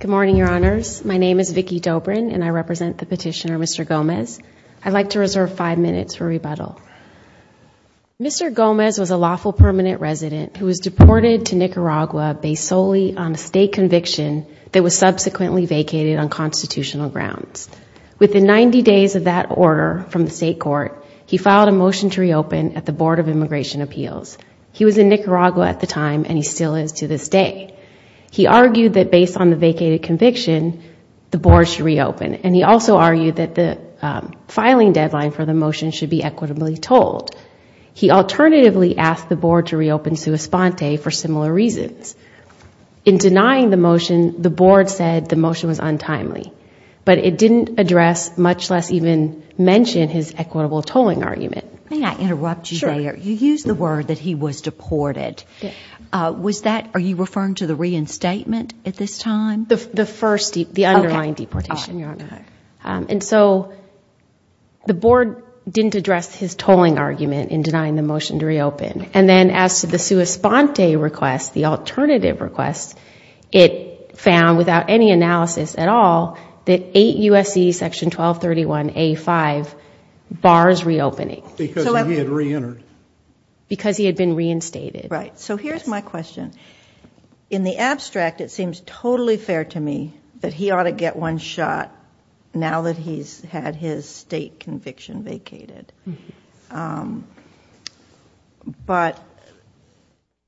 Good morning, Your Honors. My name is Vicki Dobrin and I represent the petitioner Mr. Gomez. I'd like to reserve five minutes for rebuttal. Mr. Gomez was a lawful permanent resident who was deported to Nicaragua based solely on a state conviction that was subsequently vacated on constitutional grounds. Within 90 days of that order from the state court, he filed a motion to reopen at the Board of Immigration Appeals. He was in Nicaragua at the time and he still is to this day. He argued that based on the vacated conviction, the board should reopen. And he also argued that the filing deadline for the motion should be equitably tolled. He alternatively asked the board to reopen sui sponte for similar reasons. In denying the motion, the board said the motion was untimely. But it didn't address, much less even mention, his equitable tolling argument. May I interrupt you there? Sure. You used the word that he was deported. Are you referring to the reinstatement at this time? The first, the underlying deportation, Your Honor. Okay. And so the board didn't address his tolling argument in denying the motion to reopen. And then as to the sui sponte request, the alternative request, it found without any analysis at all that 8 U.S.C. section 1231A5 bars reopening. Because he had reentered. Because he had been reinstated. Right. So here's my question. In the abstract, it seems totally fair to me that he ought to get one shot now that he's had his state conviction vacated. But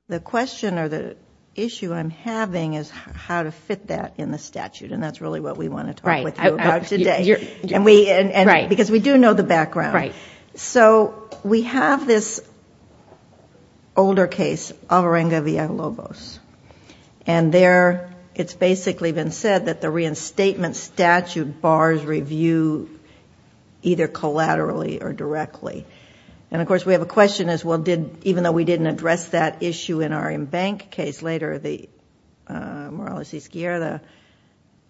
the question or the issue I'm having is how to fit that in the statute. And that's really what we want to talk with you about today. Because we do know the background. Right. So we have this older case, Alvarenga v. Aguilobos. And there it's basically been said that the reinstatement statute bars review either collaterally or directly. And, of course, we have a question as well, even though we didn't address that issue in our embank case later, the Morales v. Squierda,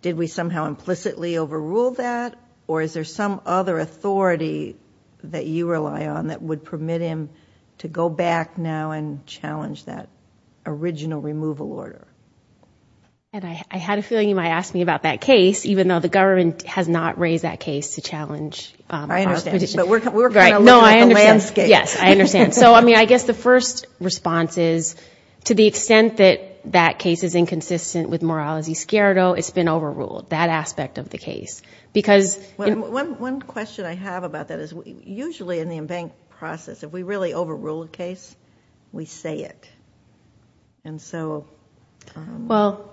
did we somehow implicitly overrule that? Or is there some other authority that you rely on that would permit him to go back now and challenge that original removal order? And I had a feeling you might ask me about that case, even though the government has not raised that case to challenge our position. I understand. But we're going to look at the landscape. Yes, I understand. So, I mean, I guess the first response is to the extent that that case is inconsistent with Morales v. Squierda, it's been overruled, that aspect of the case. One question I have about that is usually in the embank process, if we really overrule a case, we say it. And so... Well,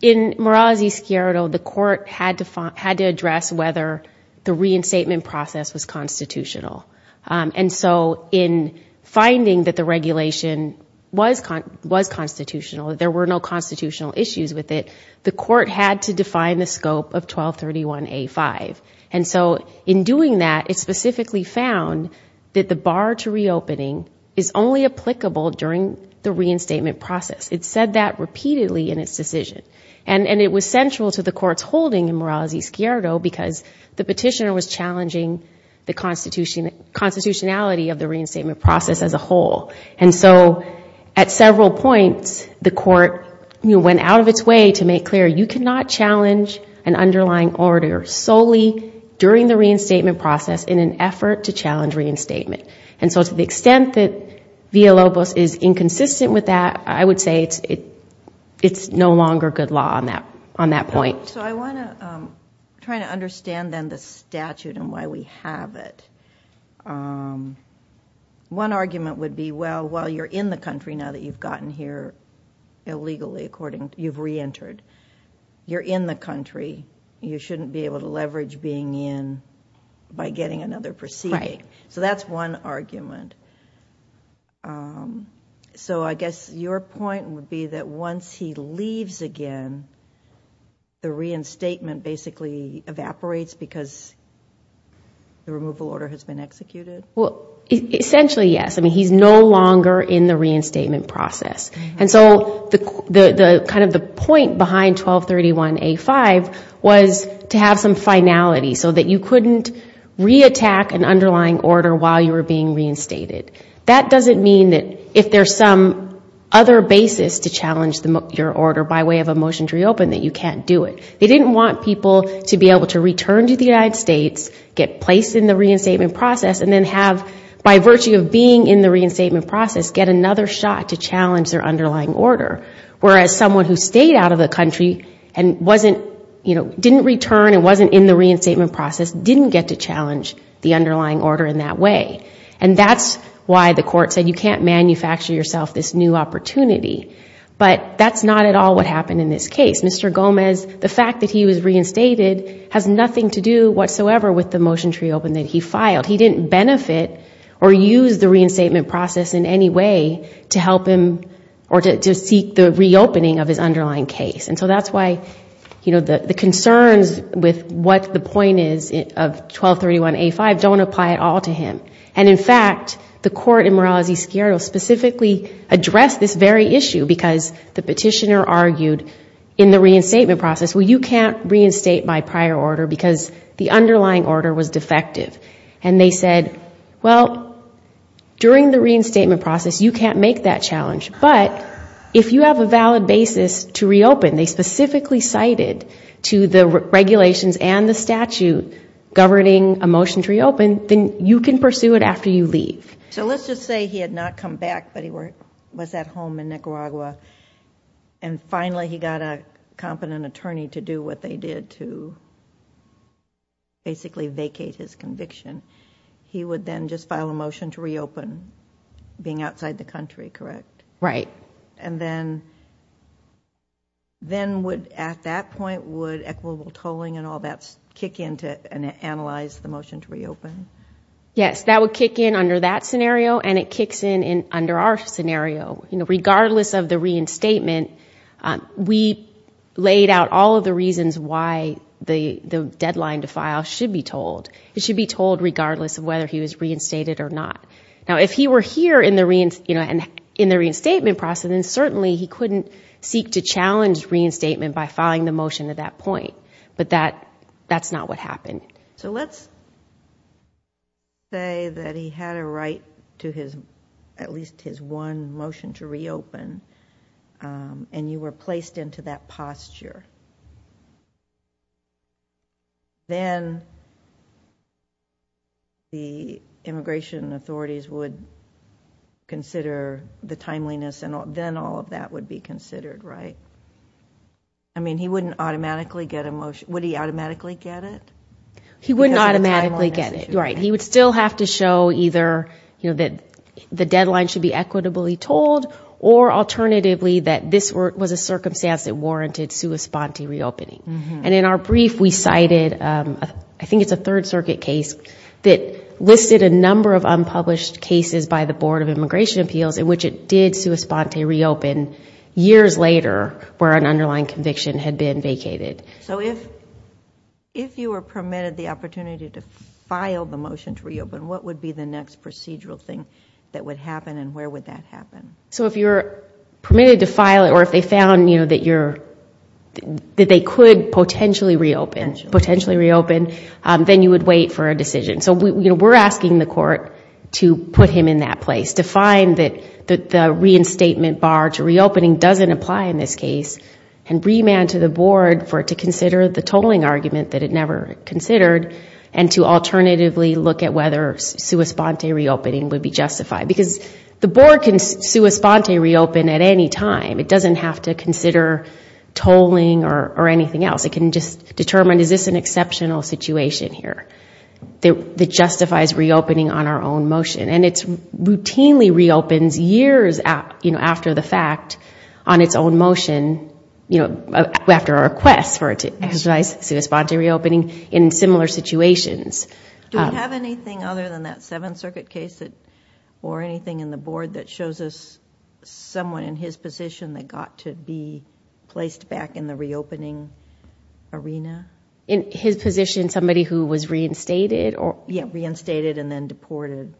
in Morales v. Squierda, the court had to address whether the reinstatement process was constitutional. And so in finding that the regulation was constitutional, there were no constitutional issues with it, the court had to define the scope of 1231A5. And so in doing that, it specifically found that the bar to reopening is only applicable during the reinstatement process. It said that repeatedly in its decision. And it was central to the court's holding in Morales v. Squierda because the petitioner was challenging the constitutionality of the reinstatement process as a whole. And so at several points, the court went out of its way to make clear, you cannot challenge an underlying order solely during the reinstatement process in an effort to challenge reinstatement. And so to the extent that Villalobos is inconsistent with that, I would say it's no longer good law on that point. So I want to try to understand then the statute and why we have it. One argument would be, well, while you're in the country now that you've gotten here illegally, according, you've reentered, you're in the country. You shouldn't be able to leverage being in by getting another proceeding. So that's one argument. So I guess your point would be that once he leaves again, the reinstatement basically evaporates because the removal order has been executed? Well, essentially, yes. I mean, he's no longer in the reinstatement process. And so kind of the point behind 1231A5 was to have some finality so that you couldn't reattack an underlying order while you were being reinstated. That doesn't mean that if there's some other basis to challenge your order by way of a motion to reopen that you can't do it. They didn't want people to be able to return to the United States, get placed in the reinstatement process, and then have, by virtue of being in the reinstatement process, get another shot to challenge their underlying order. Whereas someone who stayed out of the country and didn't return and wasn't in the reinstatement process didn't get to challenge the underlying order in that way. And that's why the court said you can't manufacture yourself this new opportunity. But that's not at all what happened in this case. Mr. Gomez, the fact that he was reinstated has nothing to do whatsoever with the motion to reopen that he filed. He didn't benefit or use the reinstatement process in any way to help him or to seek the reopening of his underlying case. And so that's why the concerns with what the point is of 1231A5 don't apply at all to him. And, in fact, the court in Morales v. Squierdo specifically addressed this very issue because the petitioner argued in the reinstatement process, well, you can't reinstate my prior order because the underlying order was defective. And they said, well, during the reinstatement process, you can't make that challenge. But if you have a valid basis to reopen, they specifically cited to the regulations and the statute governing a motion to reopen, then you can pursue it after you leave. So let's just say he had not come back, but he was at home in Nicaragua. And finally, he got a competent attorney to do what they did to basically vacate his conviction. He would then just file a motion to reopen, being outside the country, correct? Right. And then at that point, would equitable tolling and all that kick in and analyze the motion to reopen? Yes, that would kick in under that scenario, and it kicks in under our scenario. Regardless of the reinstatement, we laid out all of the reasons why the deadline to file should be told. It should be told regardless of whether he was reinstated or not. Now, if he were here in the reinstatement process, then certainly he couldn't seek to challenge reinstatement by filing the motion at that point. But that's not what happened. So let's say that he had a right to at least his one motion to reopen, and you were placed into that posture. Then the immigration authorities would consider the timeliness, and then all of that would be considered, right? I mean, he wouldn't automatically get a motion. Would he automatically get it? He wouldn't automatically get it, right. He would still have to show either that the deadline should be equitably told, or alternatively that this was a circumstance that warranted sua sponte reopening. And in our brief, we cited, I think it's a Third Circuit case, that listed a number of unpublished cases by the Board of Immigration Appeals in which it did sua sponte reopen. Years later, where an underlying conviction had been vacated. So if you were permitted the opportunity to file the motion to reopen, what would be the next procedural thing that would happen, and where would that happen? So if you're permitted to file it, or if they found that they could potentially reopen, then you would wait for a decision. So we're asking the court to put him in that place, to find that the reinstatement bar to reopening doesn't apply in this case, and remand to the board for it to consider the tolling argument that it never considered, and to alternatively look at whether sua sponte reopening would be justified. Because the board can sua sponte reopen at any time. It doesn't have to consider tolling or anything else. It can just determine, is this an exceptional situation here? That justifies reopening on our own motion. And it routinely reopens years after the fact on its own motion, after a request for it to exercise sua sponte reopening in similar situations. Do we have anything other than that Seventh Circuit case, or anything in the board that shows us someone in his position that got to be placed back in the reopening arena? In his position, somebody who was reinstated? Yeah, reinstated and then deported.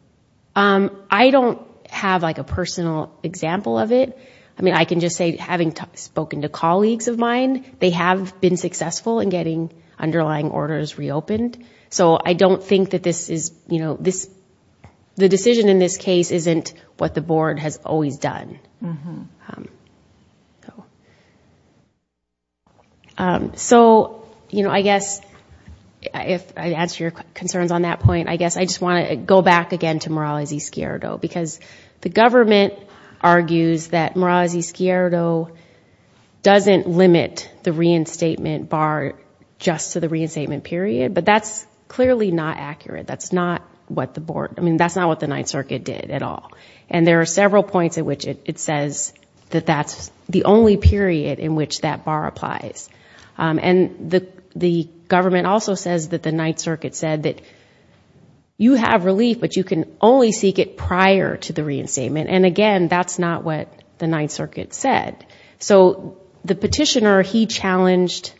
I don't have a personal example of it. I mean, I can just say, having spoken to colleagues of mine, they have been successful in getting underlying orders reopened. So I don't think that this is, you know, the decision in this case isn't what the board has always done. So, you know, I guess, if I answer your concerns on that point, I guess I just want to go back again to Morales-Escuero, because the government argues that Morales-Escuero doesn't limit the reinstatement bar just to the reinstatement period. But that's clearly not accurate. That's not what the board, I mean, that's not what the Ninth Circuit did at all. And there are several points at which it's not accurate. It says that that's the only period in which that bar applies. And the government also says that the Ninth Circuit said that you have relief, but you can only seek it prior to the reinstatement. And, again, that's not what the Ninth Circuit said. So the petitioner, he challenged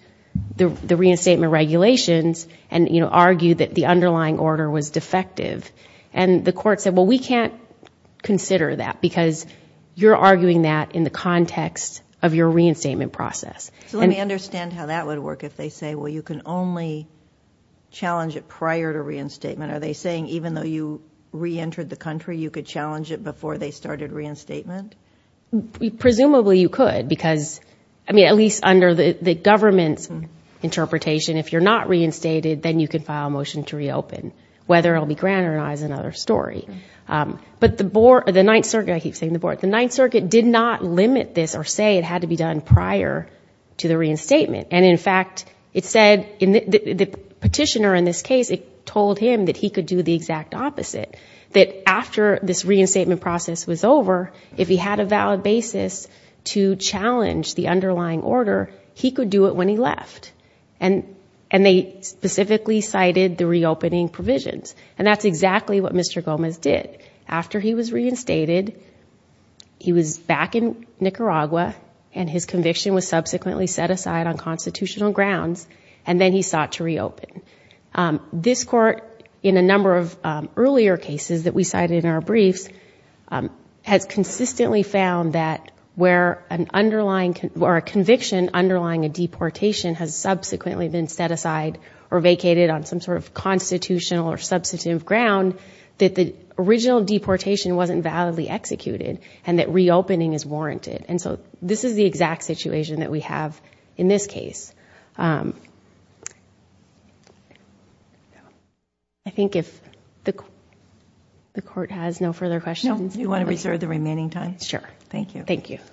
the reinstatement regulations and, you know, argued that the underlying order was defective. And the court said, well, we can't consider that because you're arguing that in the context of your reinstatement process. So let me understand how that would work if they say, well, you can only challenge it prior to reinstatement. Are they saying even though you reentered the country, you could challenge it before they started reinstatement? Presumably you could, because, I mean, at least under the government's interpretation, if you're not reinstated, then you can file a motion to reopen, whether it will be granted or not is another story. But the Ninth Circuit did not limit this or say it had to be done prior to the reinstatement. And, in fact, it said the petitioner in this case, it told him that he could do the exact opposite, that after this reinstatement process was over, if he had a valid basis to challenge the underlying order, he could do it when he left. And they specifically cited the reopening provisions. And that's exactly what Mr. Gomez did. After he was reinstated, he was back in Nicaragua, and his conviction was subsequently set aside on constitutional grounds, and then he sought to reopen. This court, in a number of earlier cases that we cited in our briefs, has consistently found that where a conviction underlying a deportation has subsequently been set aside or vacated on some sort of constitutional or substantive ground, that the original deportation wasn't validly executed and that reopening is warranted. And so this is the exact situation that we have in this case. I think if the court has no further questions... No, you want to reserve the remaining time? Sure. Thank you. Thank you. Thank you.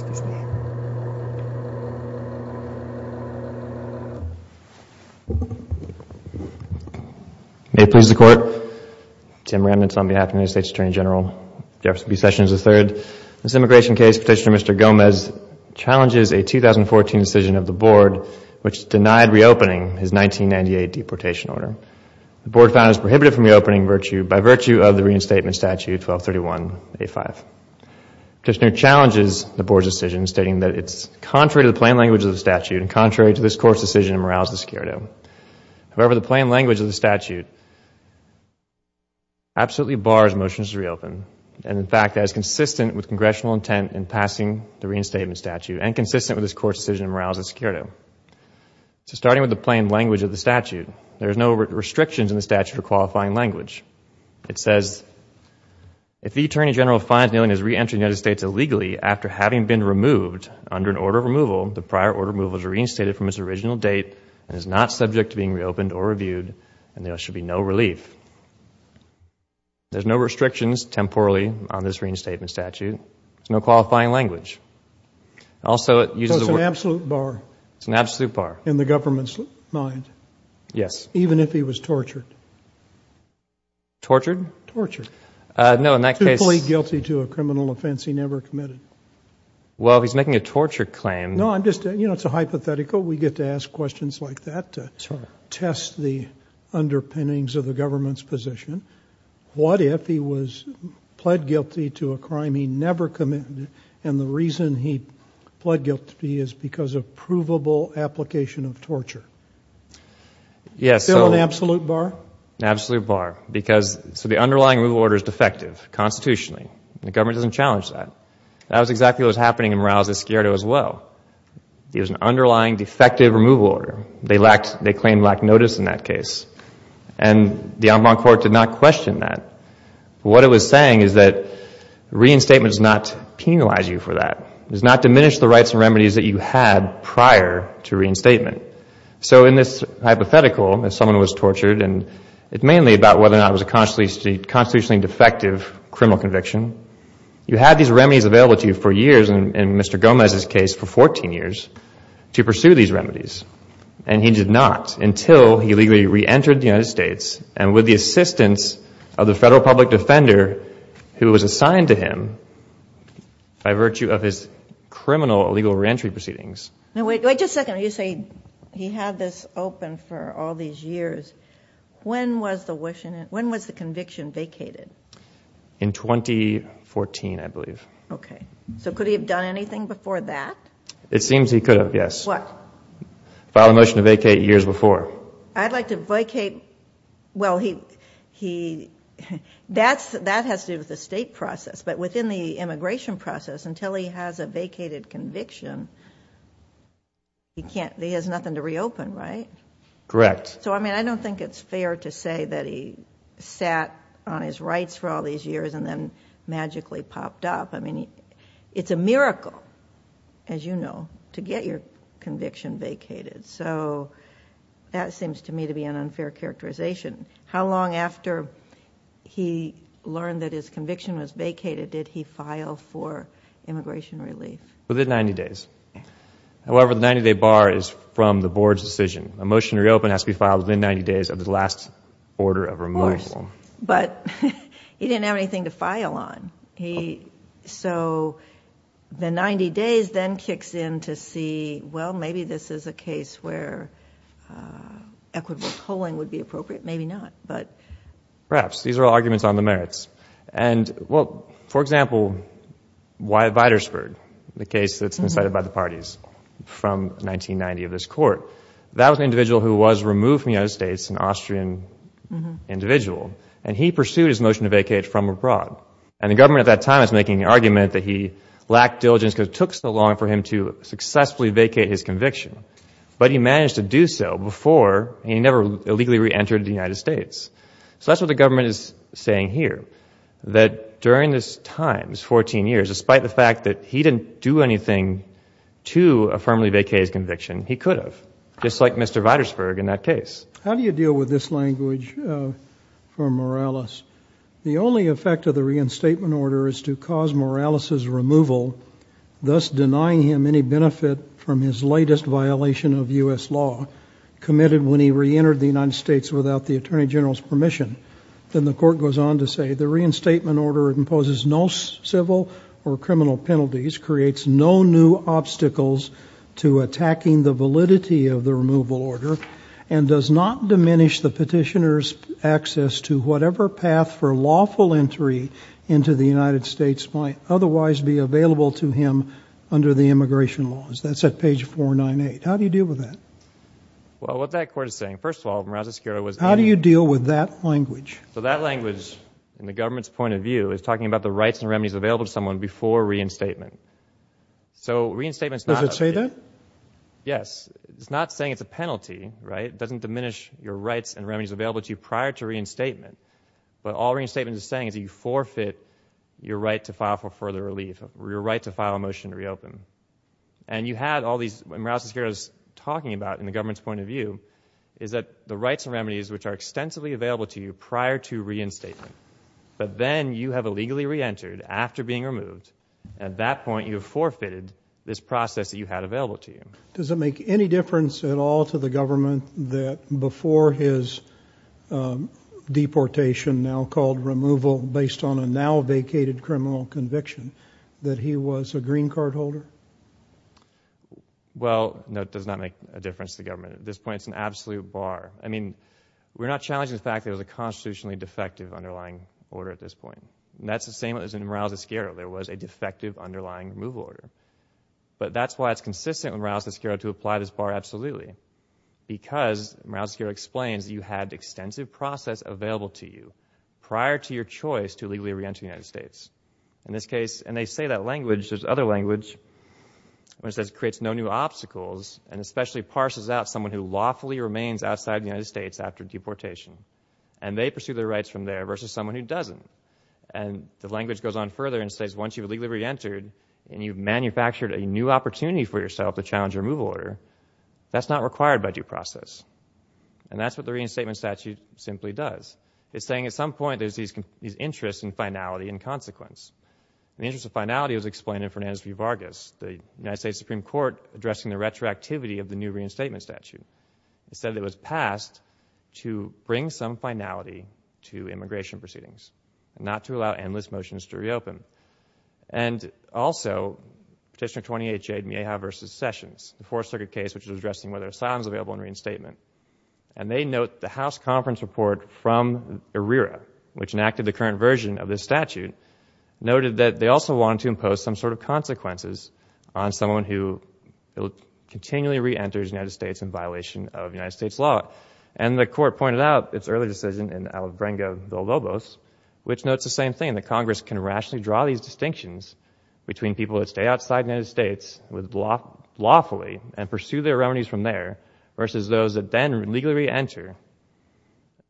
Excuse me. May it please the Court, Tim Remnitz on behalf of the United States Attorney General Jefferson B. Sessions III. This immigration case, Petitioner Mr. Gomez challenges a 2014 decision of the Board which denied reopening his 1998 deportation order. The Board found it was prohibited from reopening by virtue of the reinstatement statute 1231A5. Petitioner challenges the Board's decision, stating that it's contrary to the plain language of the statute and contrary to this Court's decision in Morales v. Securito. However, the plain language of the statute absolutely bars motions to reopen. And in fact, that is consistent with Congressional intent in passing the reinstatement statute and consistent with this Court's decision in Morales v. Securito. So starting with the plain language of the statute, there are no restrictions in the statute for qualifying language. It says, if the Attorney General finds New England has reentered the United States illegally after having been removed under an order of removal, the prior order of removal is reinstated from its original date and is not subject to being reopened or reviewed, and there should be no relief. There's no restrictions, temporally, on this reinstatement statute. There's no qualifying language. Also, it uses the word... So it's an absolute bar. It's an absolute bar. In the government's mind. Yes. Even if he was tortured. Tortured? Tortured. No, in that case... To plead guilty to a criminal offense he never committed. Well, if he's making a torture claim... No, I'm just... You know, it's a hypothetical. We get to ask questions like that to test the underpinnings of the government's position. What if he was pled guilty to a crime he never committed and the reason he pled guilty is because of provable application of torture? Yes, so... Still an absolute bar? Absolute bar. Because... So the underlying rule of order is defective, constitutionally. The government doesn't challenge that. That was exactly what was happening in Morales Esquerdo as well. It was an underlying defective removal order. They claimed lack of notice in that case. And the Environment Court did not question that. What it was saying is that reinstatement does not penalize you for that. It does not diminish the rights and remedies that you had prior to reinstatement. So in this hypothetical, if someone was tortured, and it's mainly about whether or not it was a constitutionally defective criminal conviction, you had these remedies available to you for years, in Mr. Gomez's case for 14 years, to pursue these remedies. And he did not until he legally reentered the United States and with the assistance of the federal public defender who was assigned to him by virtue of his criminal illegal reentry proceedings. Now, wait just a second. You say he had this open for all these years. When was the conviction vacated? In 2014, I believe. Okay. So could he have done anything before that? It seems he could have, yes. What? File a motion to vacate years before. I'd like to vacate... Well, he... That has to do with the state process. But within the immigration process, until he has a vacated conviction, he has nothing to reopen, right? Correct. So, I mean, I don't think it's fair to say that he sat on his rights for all these years and then magically popped up. I mean, it's a miracle, as you know, to get your conviction vacated. So that seems to me to be an unfair characterization. How long after he learned that his conviction was vacated did he file for immigration relief? Within 90 days. However, the 90-day bar is from the board's decision. A motion to reopen has to be filed within 90 days of the last order of removal. Of course. But he didn't have anything to file on. So the 90 days then kicks in to see, well, maybe this is a case where equitable tolling would be appropriate. Maybe not. Perhaps. These are all arguments on the merits. And, well, for example, Wyatt Vidersberg, the case that's been cited by the parties from 1990 of this Court, that was an individual who was removed from the United States, an Austrian individual, and he pursued his motion to vacate from abroad. And the government at that time was making the argument that he lacked diligence because it took so long for him to successfully vacate his conviction. But he managed to do so before, and he never illegally reentered the United States. So that's what the government is saying here, that during this time, this 14 years, despite the fact that he didn't do anything to affirmably vacate his conviction, he could have, just like Mr. Vidersberg in that case. How do you deal with this language from Morales? The only effect of the reinstatement order is to cause Morales' removal, thus denying him any benefit from his latest violation of U.S. law, committed when he reentered the United States without the Attorney General's permission. Then the Court goes on to say, the reinstatement order imposes no civil or criminal penalties, creates no new obstacles to attacking the validity of the removal order, and does not diminish the petitioner's access to whatever path for lawful entry into the United States might otherwise be available to him under the immigration laws. That's at page 498. How do you deal with that? Well, what that Court is saying, first of all, Morales Esquerra was— How do you deal with that language? So that language, in the government's point of view, is talking about the rights and remedies available to someone before reinstatement. So reinstatement's not— Does it say that? Yes. It's not saying it's a penalty, right? It doesn't diminish your rights and remedies available to you prior to reinstatement. But all reinstatement is saying is that you forfeit your right to file for further relief, your right to file a motion to reopen. And you had all these— Morales Esquerra's talking about, in the government's point of view, is that the rights and remedies which are extensively available to you prior to reinstatement, but then you have illegally reentered after being removed, at that point you have forfeited this process that you had available to you. Does it make any difference at all to the government that before his deportation, now called removal based on a now-vacated criminal conviction, that he was a green card holder? Well, no, it does not make a difference to the government. At this point, it's an absolute bar. I mean, we're not challenging the fact that it was a constitutionally defective underlying order at this point. And that's the same as in Morales Esquerra. There was a defective underlying removal order. But that's why it's consistent with Morales Esquerra to apply this bar absolutely, because Morales Esquerra explains that you had extensive process available to you prior to your choice to illegally reenter the United States. In this case—and they say that language, there's other language, which says it creates no new obstacles, and especially parses out someone who lawfully remains outside the United States after deportation. And they pursue their rights from there versus someone who doesn't. And the language goes on further and says once you've illegally reentered, and you've manufactured a new opportunity for yourself to challenge a removal order, that's not required by due process. And that's what the reinstatement statute simply does. It's saying at some point there's these interests in finality and consequence. The interest of finality was explained in Fernandez v. Vargas, the United States Supreme Court addressing the retroactivity of the new reinstatement statute. It said it was passed to bring some finality to immigration proceedings, not to allow endless motions to reopen. And also Petitioner 28J, Mejia v. Sessions, the Fourth Circuit case which was addressing whether asylum is available in reinstatement. And they note the House Conference Report from ERIRA, which enacted the current version of this statute, noted that they also wanted to impose some sort of consequences on someone who continually reenters the United States in violation of United States law. And the Court pointed out its early decision in Alibrenga v. Villalobos, which notes the same thing, that Congress can rationally draw these distinctions between people that stay outside the United States lawfully and pursue their remedies from there, versus those that then legally reenter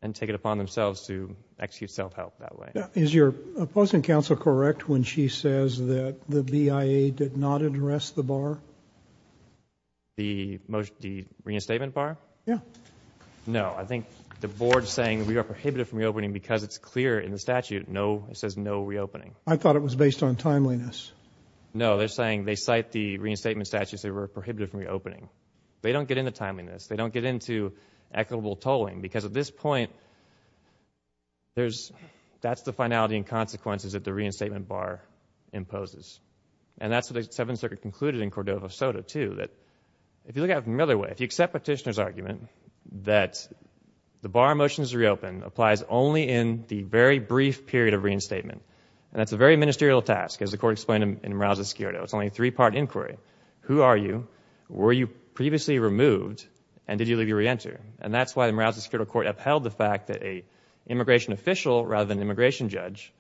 and take it upon themselves to execute self-help that way. Is your opposing counsel correct when she says that the BIA did not address the bar? The reinstatement bar? Yeah. No, I think the board is saying we are prohibited from reopening because it's clear in the statute it says no reopening. I thought it was based on timeliness. No, they're saying they cite the reinstatement statute and say we're prohibited from reopening. They don't get into timeliness. They don't get into equitable tolling, because at this point that's the finality and consequences that the reinstatement bar imposes. And that's what the Seventh Circuit concluded in Cordova v. Soto, too, that if you look at it from another way, if you accept Petitioner's argument that the bar motions to reopen applies only in the very brief period of reinstatement, and that's a very ministerial task, as the Court explained in Morales v. Sciordo. It's only a three-part inquiry. Who are you? Were you previously removed? And did you legally reenter? And that's why the Morales v. Sciordo Court upheld the fact that an immigration official rather than an immigration judge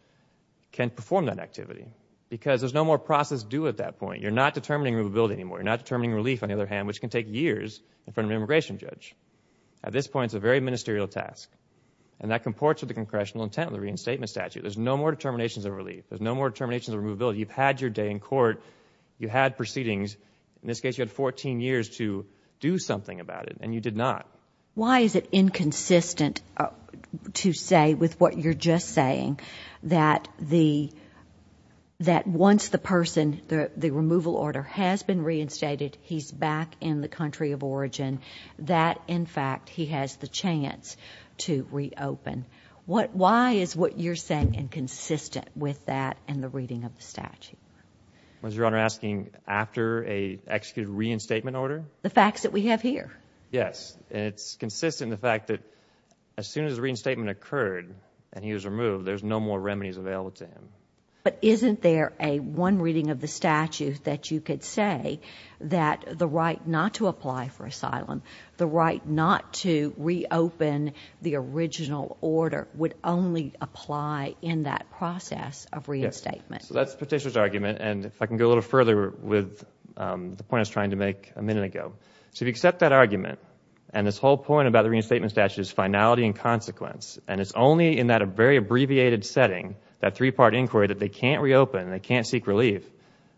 can perform that activity, because there's no more process due at that point. You're not determining removability anymore. You're not determining relief, on the other hand, which can take years in front of an immigration judge. At this point, it's a very ministerial task, and that comports with the Congressional intent of the reinstatement statute. There's no more determinations of relief. There's no more determinations of removability. You've had your day in court. You had proceedings. In this case, you had 14 years to do something about it, and you did not. Why is it inconsistent to say with what you're just saying that once the person, the removal order, has been reinstated, he's back in the country of origin, that, in fact, he has the chance to reopen? Why is what you're saying inconsistent with that and the reading of the statute? I was, Your Honor, asking after an executed reinstatement order? The facts that we have here. Yes, and it's consistent in the fact that as soon as the reinstatement occurred and he was removed, there's no more remedies available to him. But isn't there a one reading of the statute that you could say that the right not to apply for asylum, the right not to reopen the original order, would only apply in that process of reinstatement? That's the petitioner's argument, and if I can go a little further with the point I was trying to make a minute ago. If you accept that argument and this whole point about the reinstatement statute is finality and consequence, and it's only in that very abbreviated setting, that three-part inquiry, that they can't reopen and they can't seek relief,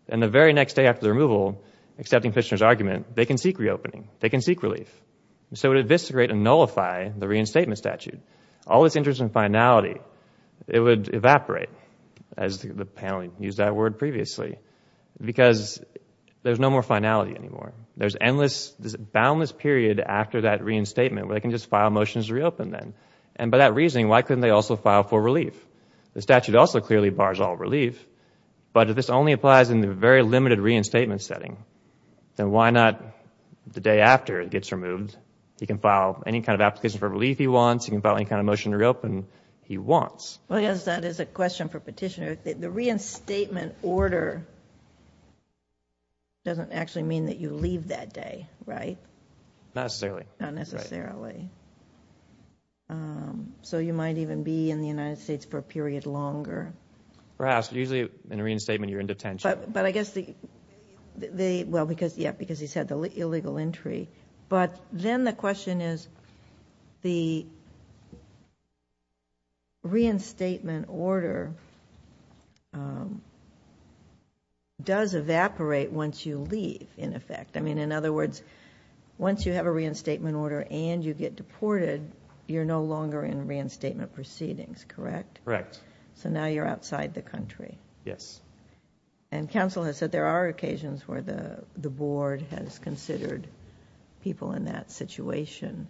then the very next day after the removal, accepting the petitioner's argument, they can seek reopening. They can seek relief. So it would investigate and nullify the reinstatement statute. All this interest in finality, it would evaporate, as the panel used that word previously, because there's no more finality anymore. There's boundless period after that reinstatement where they can just file motions to reopen then. And by that reasoning, why couldn't they also file for relief? The statute also clearly bars all relief, but if this only applies in the very limited reinstatement setting, then why not the day after it gets removed? He can file any kind of application for relief he wants. He can file any kind of motion to reopen he wants. Well, yes, that is a question for Petitioner. The reinstatement order doesn't actually mean that you leave that day, right? Not necessarily. Not necessarily. So you might even be in the United States for a period longer. Perhaps. Usually in a reinstatement, you're in detention. But I guess the... Well, because he said the illegal entry. But then the question is, the reinstatement order does evaporate once you leave, in effect. In other words, once you have a reinstatement order and you get deported, you're no longer in reinstatement proceedings, correct? Correct. So now you're outside the country. Yes. And counsel has said there are occasions where the board has considered people in that situation.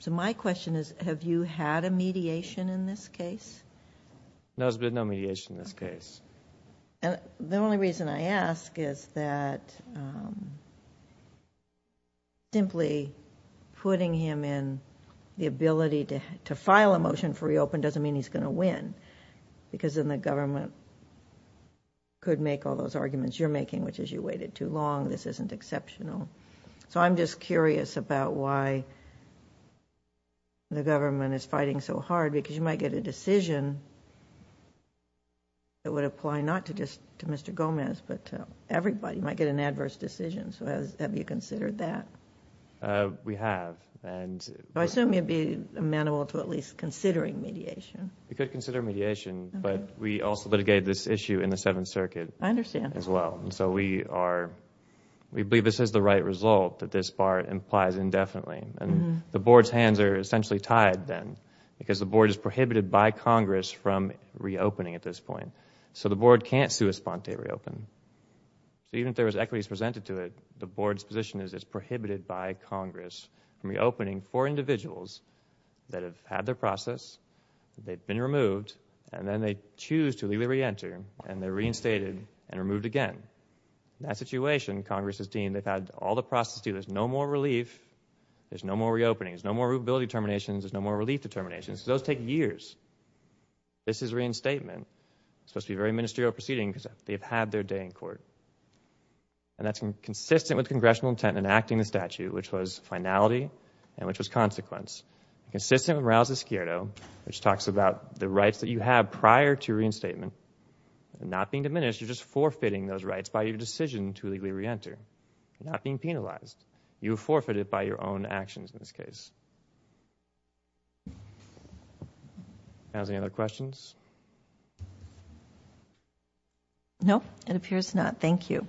So my question is, have you had a mediation in this case? No, there's been no mediation in this case. The only reason I ask is that simply putting him in the ability to file a motion for reopen doesn't mean he's going to win, because then the government could make all those arguments you're making, which is you waited too long, this isn't exceptional. So I'm just curious about why the government is fighting so hard, because you might get a decision that would apply not just to Mr. Gomez, but to everybody. You might get an adverse decision. So have you considered that? We have. I assume you'd be amenable to at least considering mediation. We could consider mediation, but we also litigated this issue in the Seventh Circuit as well. I understand. So we believe this is the right result that this bar implies indefinitely. The board's hands are essentially tied then, because the board is prohibited by Congress from reopening at this point. So the board can't sui sponte reopen. Even if there was equities presented to it, the board's position is it's prohibited by Congress from reopening for individuals that have had their process, they've been removed, and then they choose to legally reenter, and they're reinstated and removed again. In that situation, Congress has deemed they've had all the process due, there's no more relief, there's no more reopening, there's no more rootability determinations, there's no more relief determinations. Those take years. This is reinstatement. It's supposed to be a very ministerial proceeding, because they've had their day in court. That's consistent with congressional intent in enacting the statute, which was finality and which was consequence. Consistent with Rouse's skirto, which talks about the rights that you have prior to reinstatement, not being diminished, you're just forfeiting those rights by your decision to legally reenter. You're not being penalized. You were forfeited by your own actions in this case. Counsel, any other questions? No, it appears not. Thank you.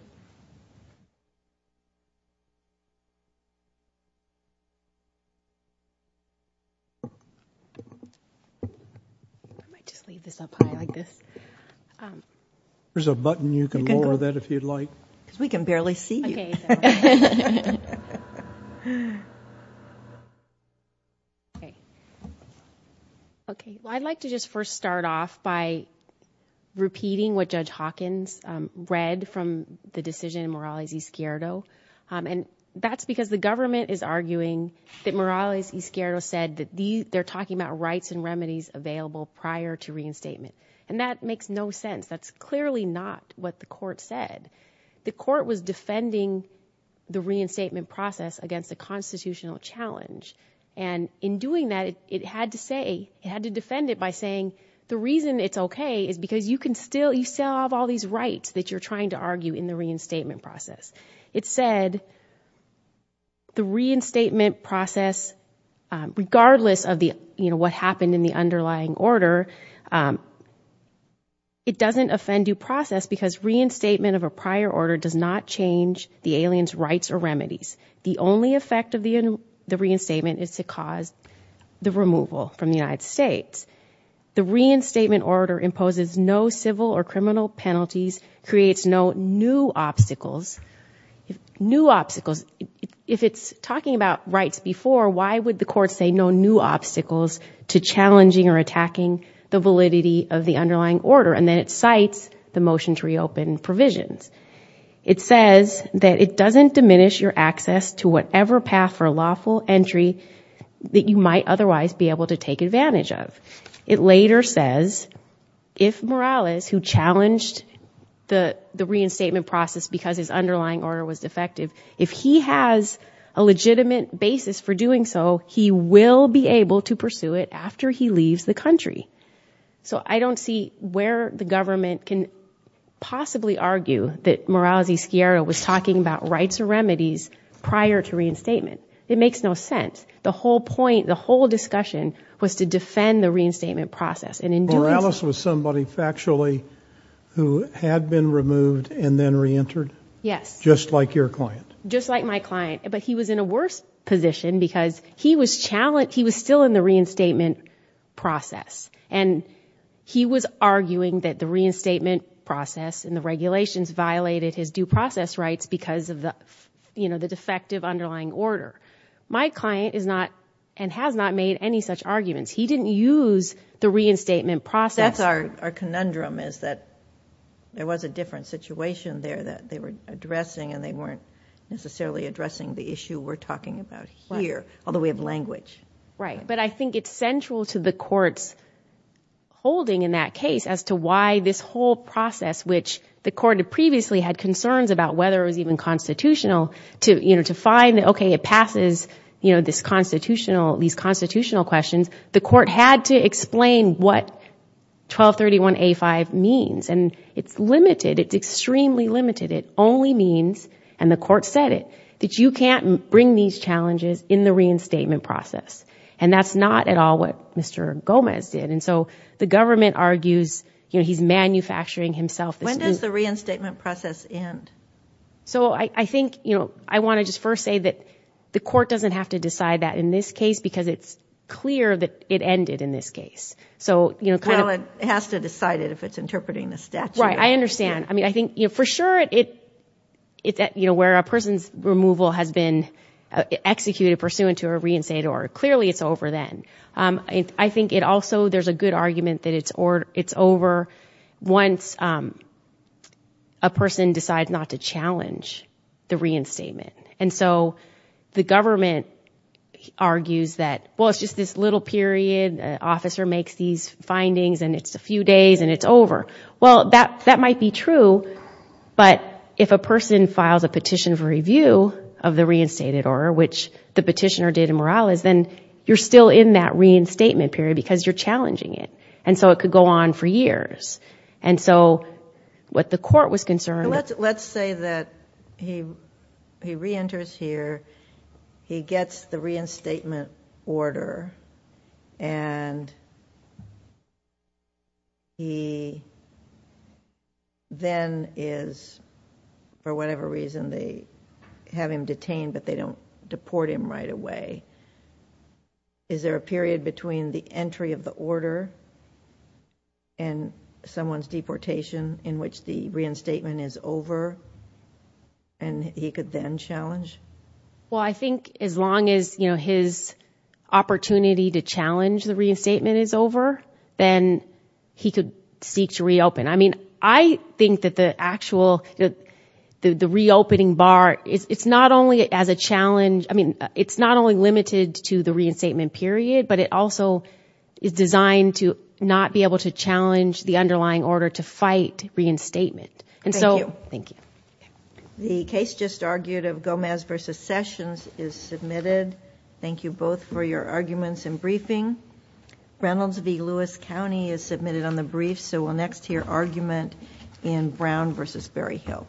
I might just leave this up high like this. There's a button. You can lower that if you'd like. Because we can barely see you. Okay. Okay, well, I'd like to just first start off by repeating what Judge Hawkins read from the decision in Morales' skirto. And that's because the government is arguing that Morales' skirto said that they're talking about rights and remedies available prior to reinstatement. And that makes no sense. That's clearly not what the court said. The court was defending the reinstatement process against a constitutional challenge. And in doing that, it had to say, it had to defend it by saying the reason it's okay is because you still have all these rights that you're trying to argue in the reinstatement process. It said the reinstatement process, regardless of what happened in the underlying order, it doesn't offend due process because reinstatement of a prior order does not change the alien's rights or remedies. The only effect of the reinstatement is to cause the removal from the United States. The reinstatement order imposes no civil or criminal penalties, creates no new obstacles. New obstacles. If it's talking about rights before, why would the court say no new obstacles to challenging or attacking the validity of the underlying order? And then it cites the motion to reopen provisions. It says that it doesn't diminish your access to whatever path for lawful entry that you might otherwise be able to take advantage of. It later says if Morales, who challenged the reinstatement process because his underlying order was defective, if he has a legitimate basis for doing so, he will be able to pursue it after he leaves the country. So I don't see where the government can possibly argue that Morales E. Sciarra was talking about rights or remedies prior to reinstatement. It makes no sense. The whole point, the whole discussion, was to defend the reinstatement process. And in doing so... Morales was somebody factually who had been removed and then reentered? Yes. Just like your client? Just like my client. But he was in a worse position because he was still in the reinstatement process. And he was arguing that the reinstatement process and the regulations violated his due process rights because of the defective underlying order. My client is not and has not made any such arguments. He didn't use the reinstatement process. That's our conundrum, is that there was a different situation there that they were addressing and they weren't necessarily addressing the issue we're talking about here, although we have language. Right. But I think it's central to the court's holding in that case as to why this whole process, which the court had previously had concerns about, whether it was even constitutional, to find that, okay, it passes these constitutional questions, the court had to explain what 1231A5 means. And it's limited. It's extremely limited. It only means, and the court said it, that you can't bring these challenges in the reinstatement process. And that's not at all what Mr. Gomez did. And so the government argues he's manufacturing himself. When does the reinstatement process end? So I think I want to just first say that the court doesn't have to decide that in this case because it's clear that it ended in this case. Well, it has to decide it if it's interpreting the statute. Right, I understand. I mean, I think for sure where a person's removal has been executed pursuant to a reinstatement or clearly it's over then. I think it also, there's a good argument that it's over once a person decides not to challenge the reinstatement. And so the government argues that, well, it's just this little period. The officer makes these findings and it's a few days and it's over. Well, that might be true, but if a person files a petition for review of the reinstated order, which the petitioner did in Morales, then you're still in that reinstatement period because you're challenging it. And so it could go on for years. And so what the court was concerned... Let's say that he reenters here, he gets the reinstatement order, and he then is, for whatever reason, they have him detained, but they don't deport him right away. Is there a period between the entry of the order and someone's deportation in which the reinstatement is over and he could then challenge? Well, I think as long as his opportunity then he could seek to reopen. I mean, I think that the actual reopening bar, it's not only limited to the reinstatement period, but it also is designed to not be able to challenge the underlying order to fight reinstatement. Thank you. The case just argued of Gomez v. Sessions is submitted. Thank you both for your arguments and briefing. Reynolds v. Lewis County is submitted on the brief, so we'll next hear argument in Brown v. Berryhill.